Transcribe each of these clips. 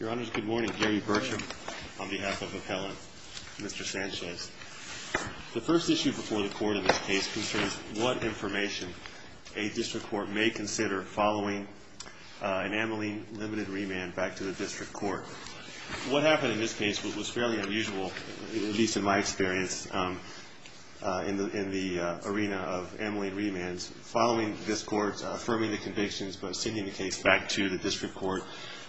Your Honor, good morning. Gary Burcham on behalf of the appellant, Mr. Sanchez. The first issue before the court in this case concerns what information a district court may consider following an amyline-limited remand back to the district court. What happened in this case was fairly unusual, at least in my experience in the arena of amyline remands. Following this court affirming the convictions but sending the case back to the district court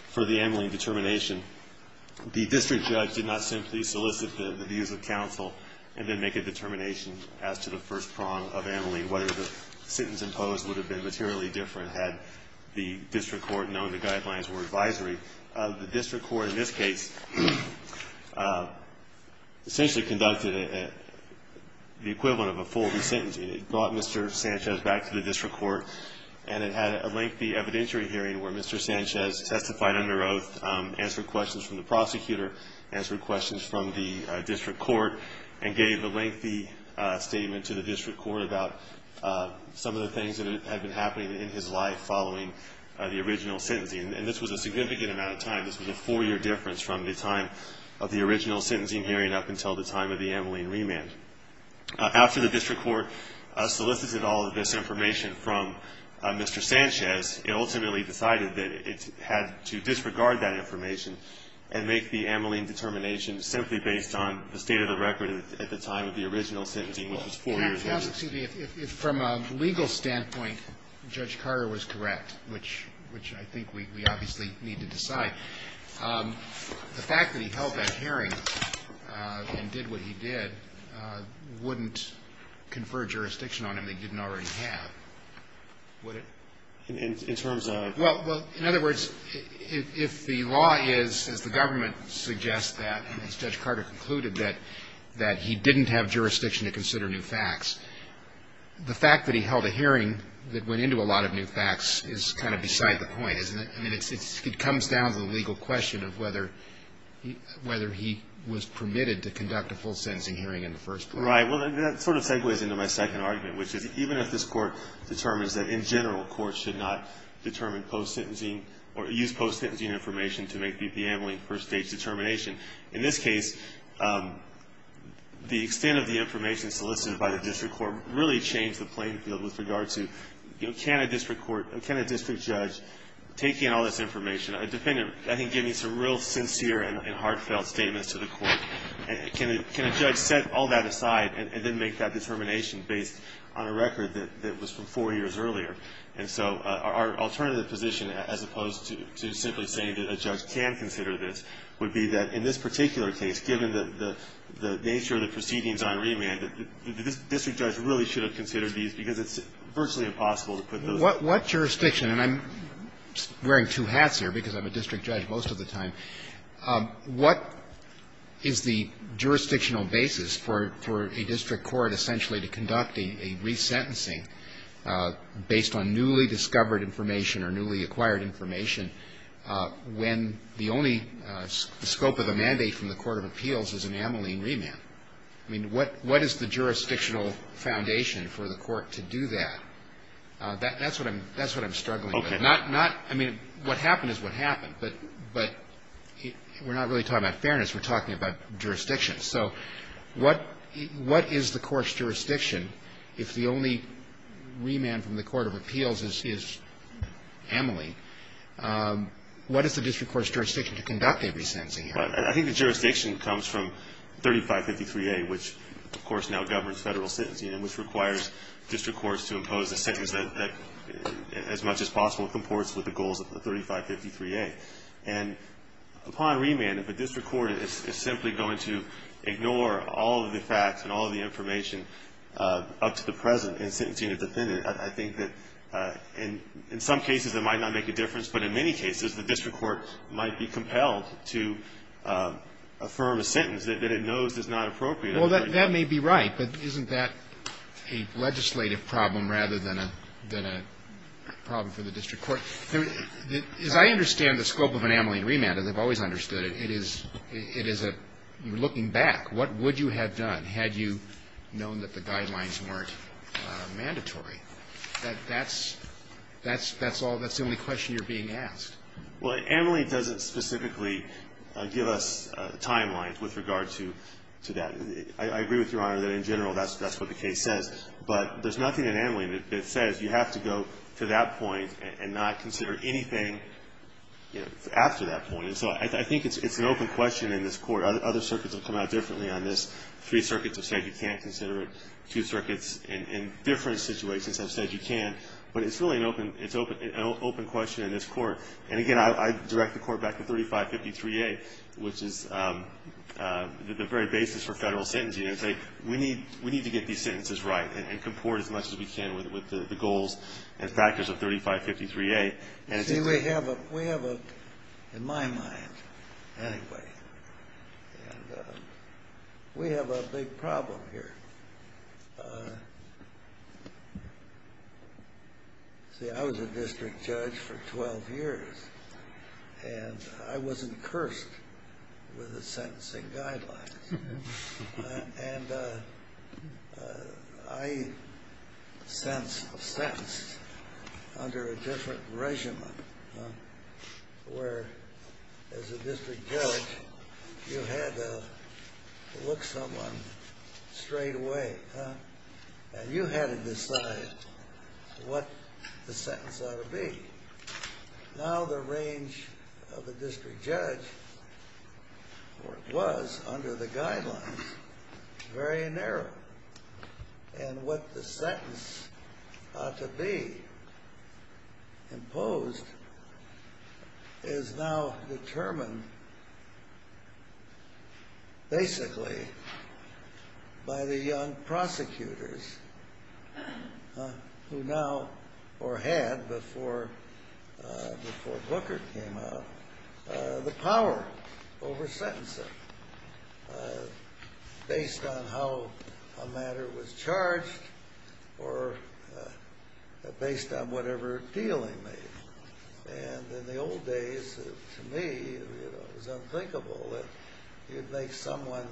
for the amyline determination, the district judge did not simply solicit the views of counsel and then make a determination as to the first prong of amyline, whether the sentence imposed would have been materially different had the district court known the guidelines were advisory. The district court in this case essentially conducted the equivalent of a full re-sentence. It brought Mr. Sanchez back to the district court and it had a lengthy evidentiary hearing where Mr. Sanchez testified under oath, answered questions from the prosecutor, answered questions from the district court, and gave a lengthy statement to the district court about some of the things that had been happening in his life following the original sentencing. And this was a significant amount of time. This was a four-year difference from the time of the original sentencing hearing up until the time of the amyline remand. After the district court solicited all of this information from Mr. Sanchez, it ultimately decided that it had to disregard that information and make the amyline determination simply based on the state of the record at the time of the original sentencing, which was four years later. Excuse me. From a legal standpoint, Judge Carter was correct, which I think we obviously need to decide. The fact that he held that hearing and did what he did wouldn't confer jurisdiction on him that he didn't already have, would it? In terms of? Well, in other words, if the law is, as the government suggests that, as Judge Carter concluded, that he didn't have jurisdiction to consider new facts, the fact that he held a hearing that went into a lot of new facts is kind of beside the point, isn't it? I mean, it comes down to the legal question of whether he was permitted to conduct a full sentencing hearing in the first place. Right. Well, that sort of segues into my second argument, which is even if this Court determines that in general courts should not determine post-sentencing or use post-sentencing information to make the amyline first-stage determination, in this case the extent of the information solicited by the district court really changed the playing field with regard to, you know, can a district court, can a district judge, taking all this information, I think giving some real sincere and heartfelt statements to the court, can a judge set all that aside and then make that determination based on a record that was from four years earlier? And so our alternative position, as opposed to simply saying that a judge can consider this, would be that in this particular case, given the nature of the proceedings on remand, that the district judge really should have considered these because it's virtually impossible to put those. What jurisdiction, and I'm wearing two hats here because I'm a district judge most of the time, what is the jurisdictional basis for a district court essentially to conduct a resentencing based on newly discovered information or newly acquired information when the only scope of the mandate from the court of appeals is an amyline remand? I mean, what is the jurisdictional foundation for the court to do that? That's what I'm struggling with. Okay. Not, I mean, what happened is what happened, but we're not really talking about fairness. We're talking about jurisdiction. So what is the court's jurisdiction if the only remand from the court of appeals is amyline? What is the district court's jurisdiction to conduct a resentencing? I think the jurisdiction comes from 3553A, which, of course, now governs federal sentencing and which requires district courts to impose a sentence that, as much as possible, comports with the goals of 3553A. And upon remand, if a district court is simply going to ignore all of the facts and all of the information up to the present in sentencing a defendant, I think that in some cases it might not make a difference, but in many cases the district court might be compelled to affirm a sentence that it knows is not appropriate. Well, that may be right, but isn't that a legislative problem rather than a problem for the district court? As I understand the scope of an amyline remand, as I've always understood it, it is a looking back. What would you have done had you known that the guidelines weren't mandatory? That's the only question you're being asked. Well, amyline doesn't specifically give us timelines with regard to that. I agree with Your Honor that in general that's what the case says, but there's nothing in amyline that says you have to go to that point and not consider anything after that point. And so I think it's an open question in this Court. Other circuits have come out differently on this. Three circuits have said you can't consider it. Two circuits in different situations have said you can. But it's really an open question in this Court. And, again, I direct the Court back to 3553A, which is the very basis for federal sentencing. We need to get these sentences right and comport as much as we can with the goals and factors of 3553A. In my mind, anyway, we have a big problem here. See, I was a district judge for 12 years, and I was incursed with the sentencing guidelines. And I sentenced under a different regimen, where as a district judge you had to look someone straight away, and you had to decide what the sentence ought to be. Now the range of a district judge, or it was under the guidelines, is very narrow. And what the sentence ought to be imposed is now determined basically by the young prosecutors who now, or had before Booker came out, the power over sentencing based on how a matter was charged or based on whatever appeal he made. And in the old days, to me, it was unthinkable that you'd make someone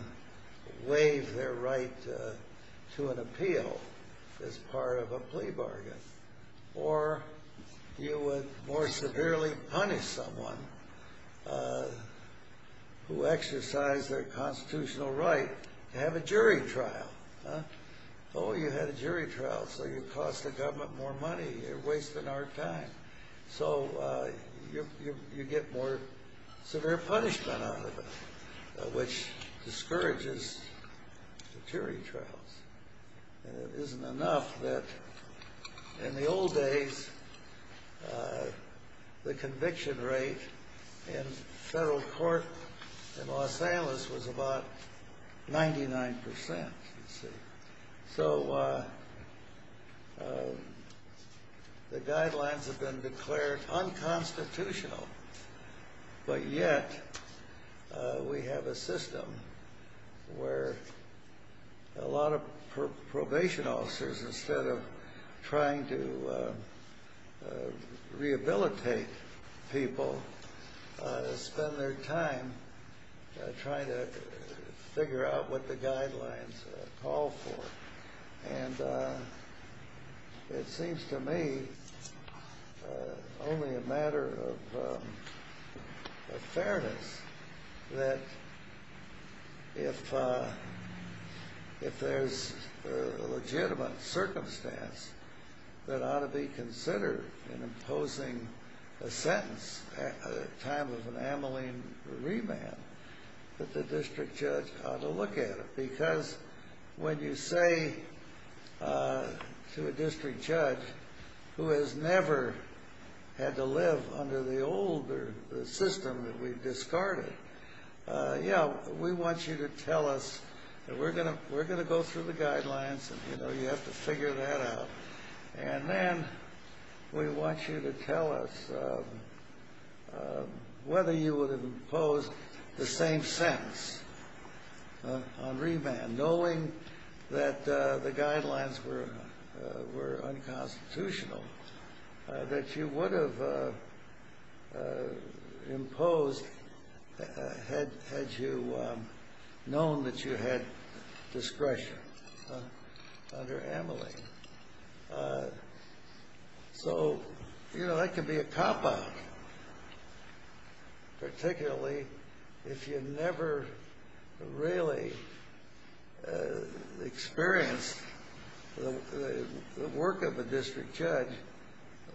waive their right to an appeal as part of a plea bargain. Or you would more severely punish someone who exercised their constitutional right to have a jury trial. Oh, you had a jury trial, so you cost the government more money. You're wasting our time. So you get more severe punishment out of it, which discourages the jury trials. And it isn't enough that in the old days, the conviction rate in federal court in Los Angeles was about 99%, you see. So the guidelines have been declared unconstitutional, but yet we have a system where a lot of probation officers, instead of trying to rehabilitate people, spend their time trying to figure out what the guidelines call for. And it seems to me only a matter of fairness that if there's a legitimate circumstance that ought to be considered in imposing a sentence at the time of an Ameline remand, that the district judge ought to look at it. Because when you say to a district judge who has never had to live under the old system that we've discarded, yeah, we want you to tell us that we're going to go through the guidelines and, you know, you have to figure that out. And then we want you to tell us whether you would impose the same sentence on remand, knowing that the guidelines were unconstitutional, that you would have imposed had you known that you had discretion under Ameline. So, you know, that could be a cop-out, particularly if you never really experienced the work of a district judge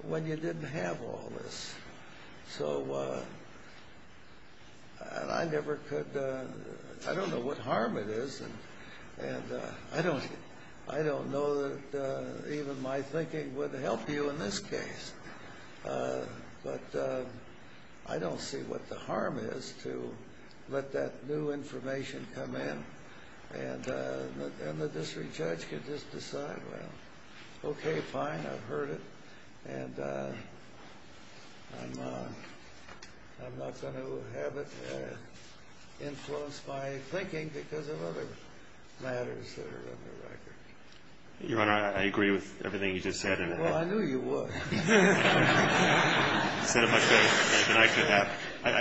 when you didn't have all this. So I never could, I don't know what harm it is, and I don't know that even my thinking would help you in this case. But I don't see what the harm is to let that new information come in and the district judge could just decide, well, okay, fine, I've heard it, and I'm not going to have it influence my thinking because of other matters that are on the record. Your Honor, I agree with everything you just said. Well, I knew you would. You said it much better than I could have. You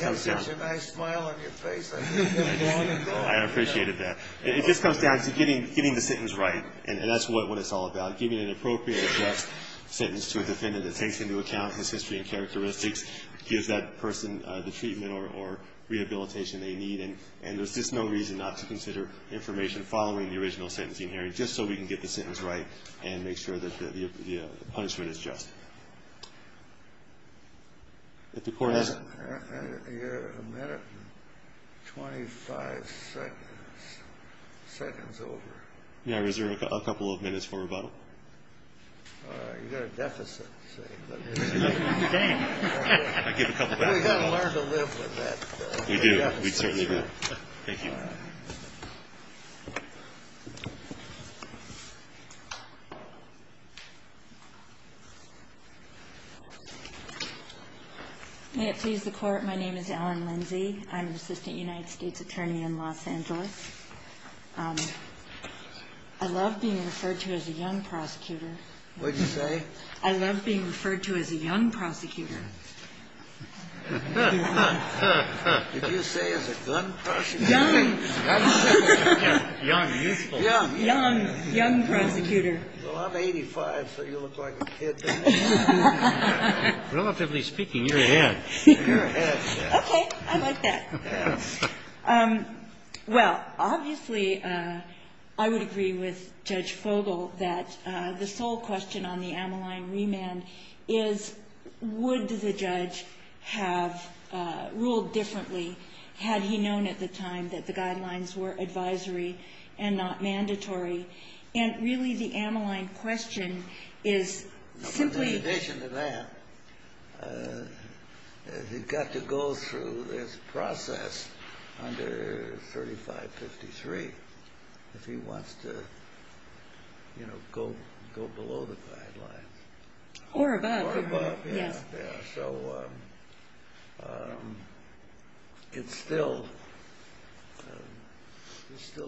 have such a nice smile on your face. I appreciated that. It just comes down to getting the sentence right, and that's what it's all about, giving an appropriate, just sentence to a defendant that takes into account his history and characteristics, gives that person the treatment or rehabilitation they need, and there's just no reason not to consider information following the original sentencing hearing just so we can get the sentence right and make sure that the punishment is just. If the Court has... You've got a minute and 25 seconds over. May I reserve a couple of minutes for rebuttal? All right. You've got a deficit, see. I give a couple back. We've got to learn to live with that deficit. We do. We certainly do. Thank you. May it please the Court, my name is Ellen Lindsey. I'm an assistant United States attorney in Los Angeles. I love being referred to as a young prosecutor. What did you say? I love being referred to as a young prosecutor. Did you say as a gun prosecutor? Young. Young, youthful. Young. Young prosecutor. Well, I'm 85, so you look like a kid to me. Relatively speaking, you're a head. You're a head, yes. Okay. I like that. Yes. Well, obviously, I would agree with Judge Fogel that the sole question on the Ammaline remand is would the judge have ruled differently had he known at the time that the guidelines were advisory and not mandatory. And really, the Ammaline question is simply... In addition to that, he's got to go through this process under 3553 if he wants to, you Or above. Or above, yes. So it's still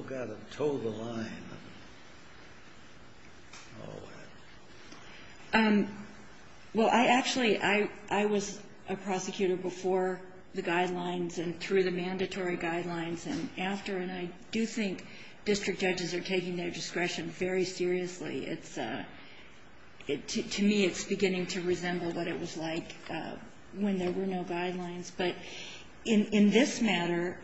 got to toe the line. Well, actually, I was a prosecutor before the guidelines and through the mandatory guidelines and after, and I do think district judges are taking their discretion very seriously. To me, it's beginning to resemble what it was like when there were no guidelines. But in this matter,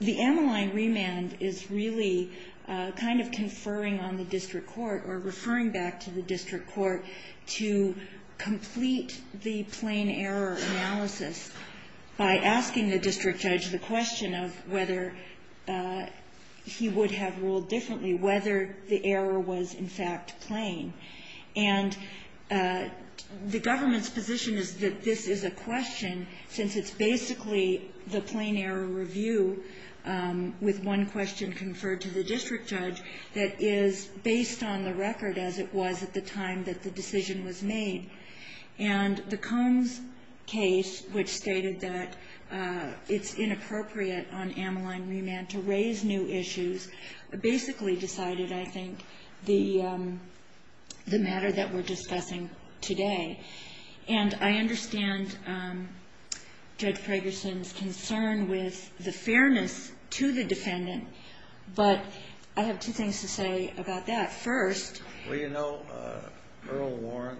the Ammaline remand is really kind of conferring on the district court or referring back to the district court to complete the plain error analysis by asking the district judge the question of whether he would have ruled differently, whether the error was, in fact, plain. And the government's position is that this is a question, since it's basically the plain error review with one question conferred to the district judge that is based on the record as it was at the time that the decision was made. And the Combs case, which stated that it's inappropriate on Ammaline remand to raise new issues, basically decided, I think, the matter that we're discussing today. And I understand Judge Pragerson's concern with the fairness to the defendant, but I have two things to say about that. Well, you know, Earl Warren,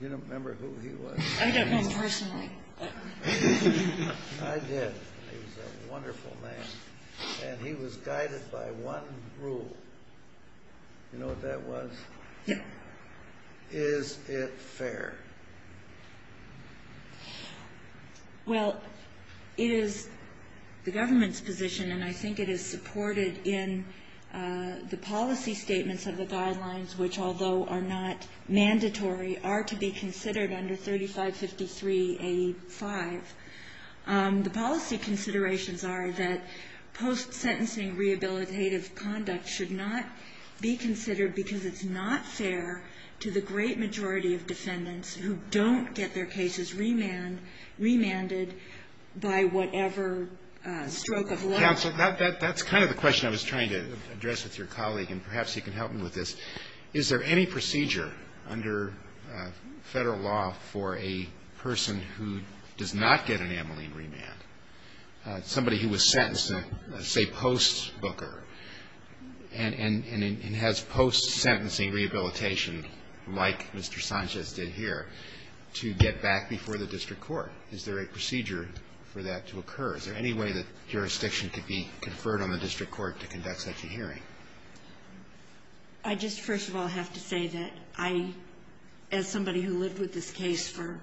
you remember who he was? I don't know personally. I did. He was a wonderful man, and he was guided by one rule. You know what that was? Yeah. Is it fair? Well, it is the government's position, and I think it is supported in the policy statements of the guidelines, which, although are not mandatory, are to be considered under 3553A5. The policy considerations are that post-sentencing rehabilitative conduct should not be considered because it's not fair to the great majority of defendants who don't get their cases remanded by whatever stroke of luck. Counsel, that's kind of the question I was trying to address with your colleague, and perhaps you can help me with this. Is there any procedure under Federal law for a person who does not get an Ammaline remand, somebody who was sentenced, say post-Booker, and has post-sentencing rehabilitation like Mr. Sanchez did here, to get back before the district court? Is there a procedure for that to occur? Is there any way that jurisdiction could be conferred on the district court to conduct such a hearing? I just, first of all, have to say that I, as somebody who lived with this case for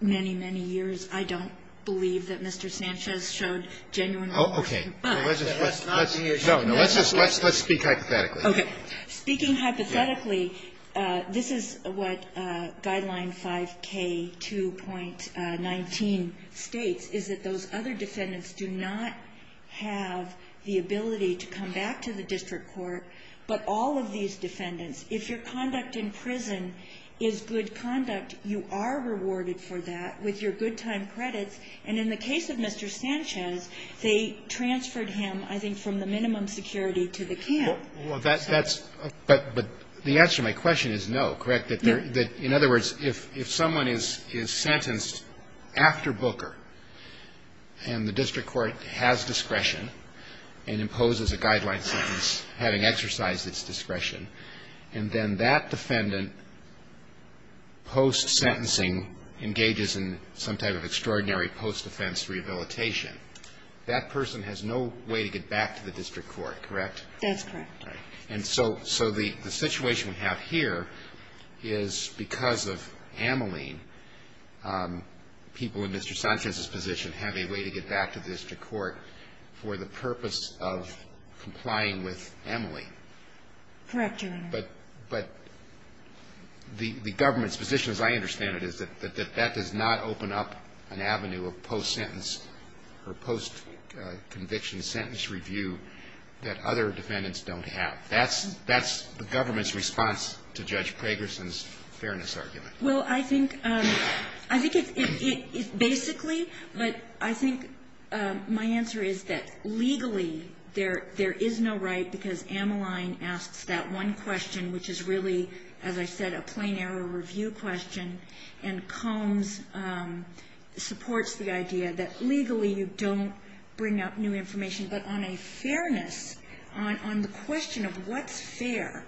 many, many years, I don't believe that Mr. Sanchez showed genuine remorse. Okay. No, let's just speak hypothetically. Okay. Speaking hypothetically, this is what Guideline 5K2.19 states, is that those other defendants do not have the ability to come back to the district court, but all of these defendants. If your conduct in prison is good conduct, you are rewarded for that with your good time credits. And in the case of Mr. Sanchez, they transferred him, I think, from the minimum security to the camp. Well, that's – but the answer to my question is no, correct? In other words, if someone is sentenced after Booker, and the district court has discretion and imposes a guideline sentence having exercised its discretion, and then that defendant post-sentencing engages in some type of extraordinary post-defense rehabilitation, that person has no way to get back to the district court, correct? That's correct. And so the situation we have here is because of Ameline, people in Mr. Sanchez's position have a way to get back to the district court for the purpose of complying with Ameline. Correct, Your Honor. But the government's position, as I understand it, is that that does not open up an avenue of post-sentence or post-conviction sentence review that other defendants don't have. That's the government's response to Judge Pragerson's fairness argument. Well, I think it's basically, but I think my answer is that legally there is no right, because Ameline asks that one question, which is really, as I said, a plain error review question, and Combs supports the idea that legally you don't bring up new information. But on a fairness, on the question of what's fair,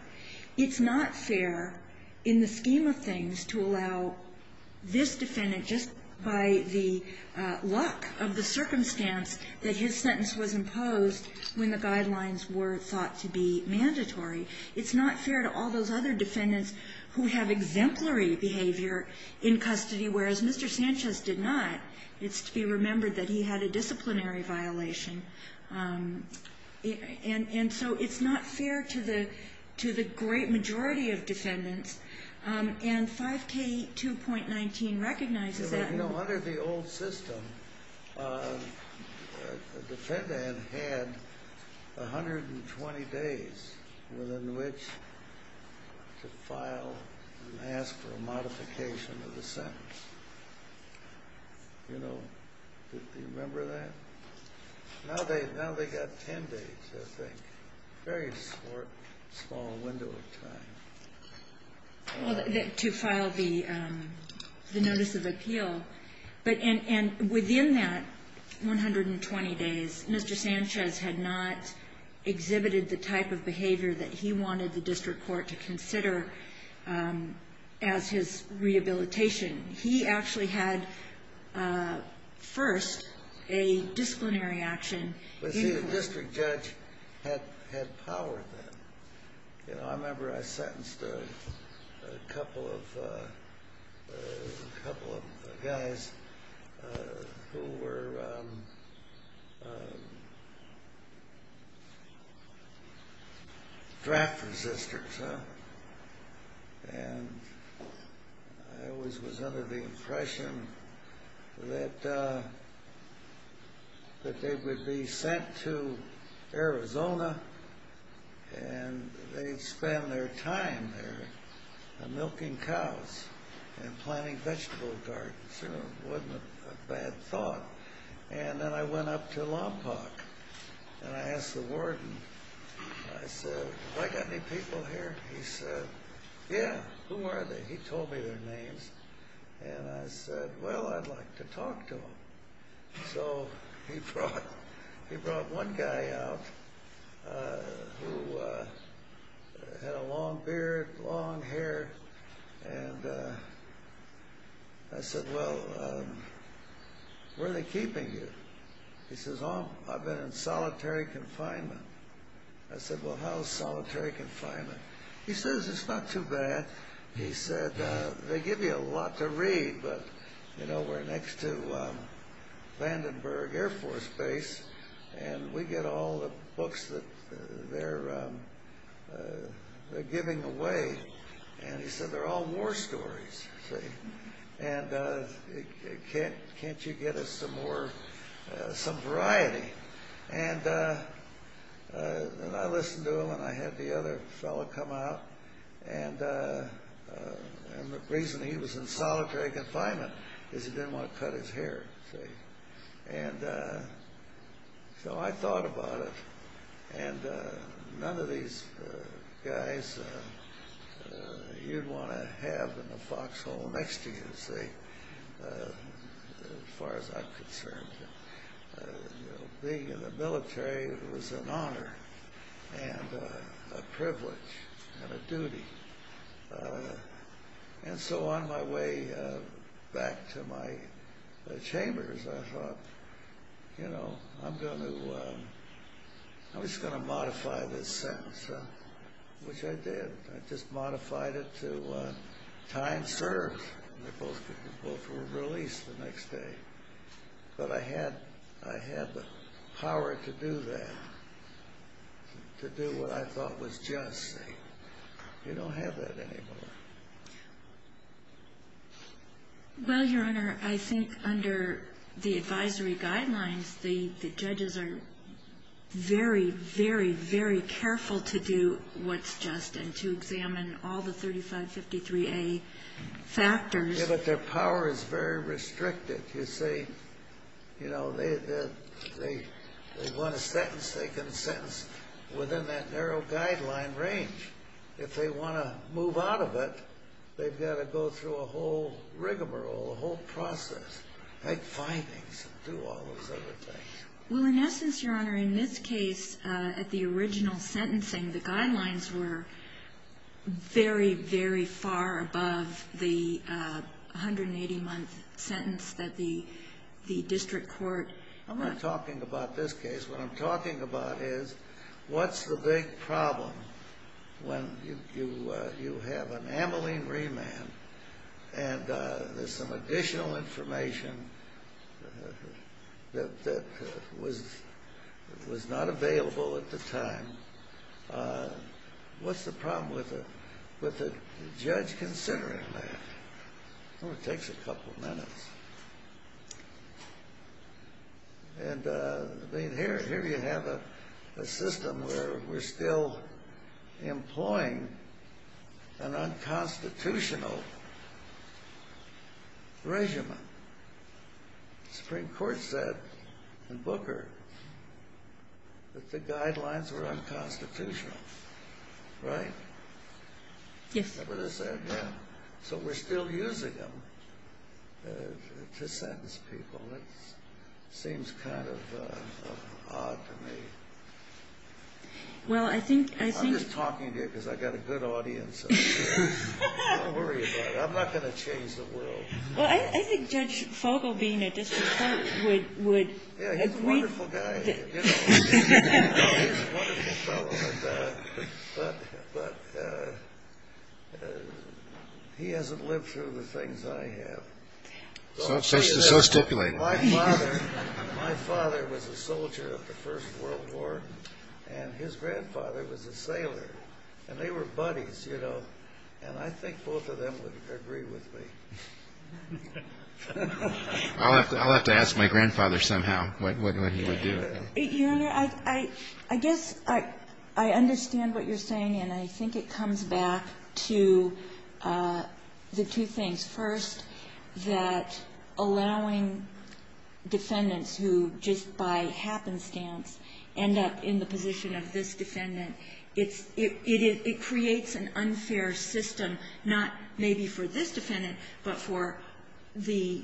it's not fair in the scheme of things to allow this defendant, just by the luck of the circumstance that his sentence was imposed when the guidelines were thought to be mandatory, it's not fair to all those other defendants who have exemplary behavior in custody, whereas Mr. Sanchez did not. It's to be remembered that he had a disciplinary violation. And so it's not fair to the great majority of defendants, and 5K2.19 recognizes that. You know, under the old system, a defendant had 120 days within which to file and ask for a modification of the sentence. You know, do you remember that? Now they've got 10 days, I think. Very small window of time. To file the notice of appeal. And within that 120 days, Mr. Sanchez had not exhibited the type of behavior that he wanted the district court to consider as his rehabilitation. He actually had, first, a disciplinary action. But see, the district judge had power then. You know, I remember I sentenced a couple of guys who were draft resistors. And I always was under the impression that they would be sent to Arizona, and they'd spend their time there milking cows and planting vegetable gardens. It wasn't a bad thought. And then I went up to Lompoc, and I asked the warden, I said, have I got any people here? He said, yeah, who are they? He told me their names. And I said, well, I'd like to talk to them. So he brought one guy out who had a long beard, long hair. And I said, well, where are they keeping you? He says, oh, I've been in solitary confinement. I said, well, how is solitary confinement? He says, it's not too bad. He said, they give you a lot to read, but we're next to Vandenberg Air Force Base, and we get all the books that they're giving away. And he said, they're all war stories. And can't you get us some variety? And I listened to him, and I had the other fellow come out. And the reason he was in solitary confinement is he didn't want to cut his hair. And so I thought about it. And none of these guys you'd want to have in the foxhole next to you, as far as I'm concerned. Being in the military was an honor and a privilege and a duty. And so on my way back to my chambers, I thought, you know, I'm just going to modify this sentence, which I did. I just modified it to time served. They both were released the next day. But I had the power to do that, to do what I thought was just. You don't have that anymore. Well, Your Honor, I think under the advisory guidelines, the judges are very, very, very careful to do what's just and to examine all the 3553A factors. Yeah, but their power is very restricted. You see, you know, they want a sentence. They can sentence within that narrow guideline range. If they want to move out of it, they've got to go through a whole rigmarole, a whole process, make findings and do all those other things. Well, in essence, Your Honor, in this case, at the original sentencing, the guidelines were very, very far above the 180-month sentence that the district court. I'm not talking about this case. What I'm talking about is what's the big problem when you have an amylene remand and there's some additional information that was not available at the time and what's the problem with the judge considering that? Well, it takes a couple of minutes. And here you have a system where we're still employing an unconstitutional regimen. The Supreme Court said in Booker that the guidelines were unconstitutional, right? Yes. So we're still using them to sentence people. It seems kind of odd to me. I'm just talking to you because I've got a good audience. Don't worry about it. I'm not going to change the world. Well, I think Judge Fogel being a district court would agree. Yeah, he's a wonderful guy. He's a wonderful fellow. But he hasn't lived through the things I have. So stipulate. My father was a soldier of the First World War, and his grandfather was a sailor. And they were buddies, you know, and I think both of them would agree with me. I'll have to ask my grandfather somehow what he would do. Your Honor, I guess I understand what you're saying, and I think it comes back to the two things. First, that allowing defendants who just by happenstance end up in the position of this defendant, it creates an unfair system, not maybe for this defendant, but for the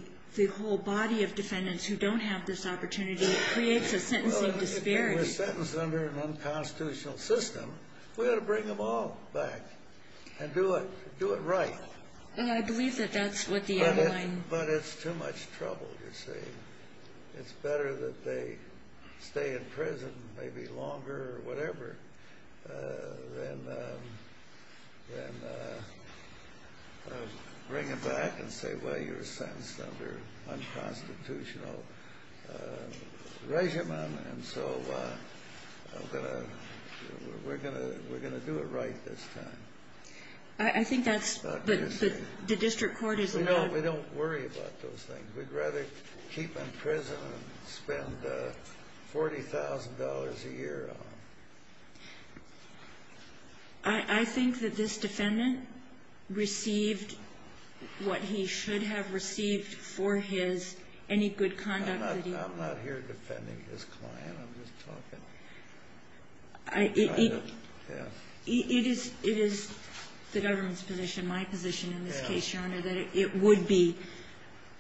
whole body of defendants who don't have this opportunity. It creates a sentencing disparity. Well, if they were sentenced under an unconstitutional system, we ought to bring them all back and do it right. Well, I believe that that's what the underlying... But it's too much trouble, you see. It's better that they stay in prison maybe longer or whatever than bring them back and say, well, you're sentenced under unconstitutional regimen, and so we're going to do it right this time. I think that's... The district court is allowed... No, we don't worry about those things. We'd rather keep them in prison and spend $40,000 a year on them. I think that this defendant received what he should have received for his... Any good conduct that he... I'm not here defending his client. I'm just talking... It is the government's position, my position in this case, Your Honor, that it would be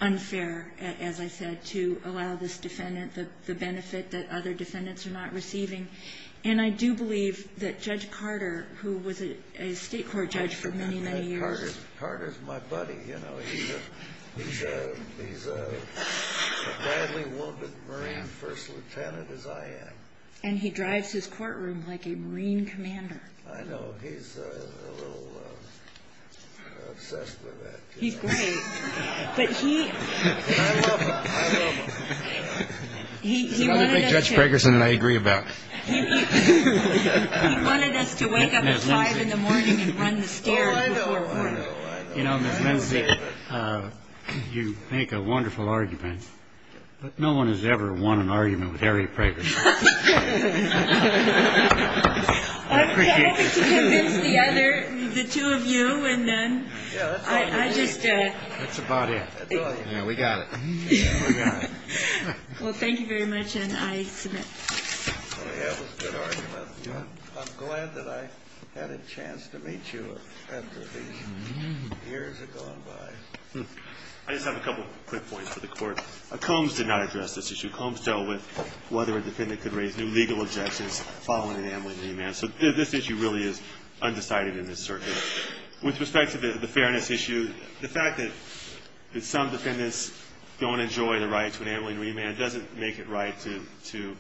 unfair, as I said, to allow this defendant the benefit that other defendants are not receiving. And I do believe that Judge Carter, who was a state court judge for many, many years... Carter's my buddy. He's as gladly wounded Marine First Lieutenant as I am. And he drives his courtroom like a Marine commander. I know. He's a little obsessed with that. He's great. But he... I love him. I love him. He wanted us to... He's another big Judge Pregerson that I agree about. He wanted us to wake up at 5 in the morning and run the stairs before court. Oh, I know, I know, I know. You know, Ms. Lindsey, you make a wonderful argument, but no one has ever won an argument with Harry Pregerson. I'm happy to convince the other, the two of you, and then I just... That's about it. That's about it. Yeah, we got it. We got it. Well, thank you very much, and I submit. That was a good argument. I'm glad that I had a chance to meet you after these years have gone by. I just have a couple quick points for the Court. Combs did not address this issue. Combs dealt with whether a defendant could raise new legal objections following an ameliorated remand. So this issue really is undecided in this circuit. With respect to the fairness issue, the fact that some defendants don't enjoy the right to an ameliorated remand doesn't make it right to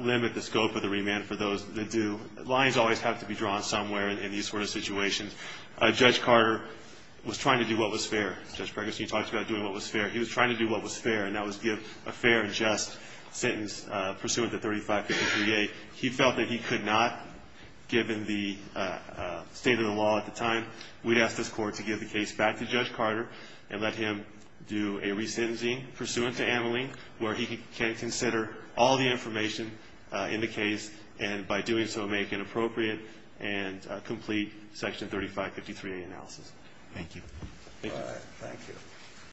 limit the scope of the remand for those that do. Lines always have to be drawn somewhere in these sort of situations. Judge Carter was trying to do what was fair. Judge Pregerson, you talked about doing what was fair. He was trying to do what was fair, and that was give a fair and just sentence pursuant to 3553A. He felt that he could not, given the state of the law at the time. We'd ask this Court to give the case back to Judge Carter and let him do a resentencing pursuant to ameliorated remand, where he can consider all the information in the case and by doing so make an appropriate and complete Section 3553A analysis. Thank you. Thank you.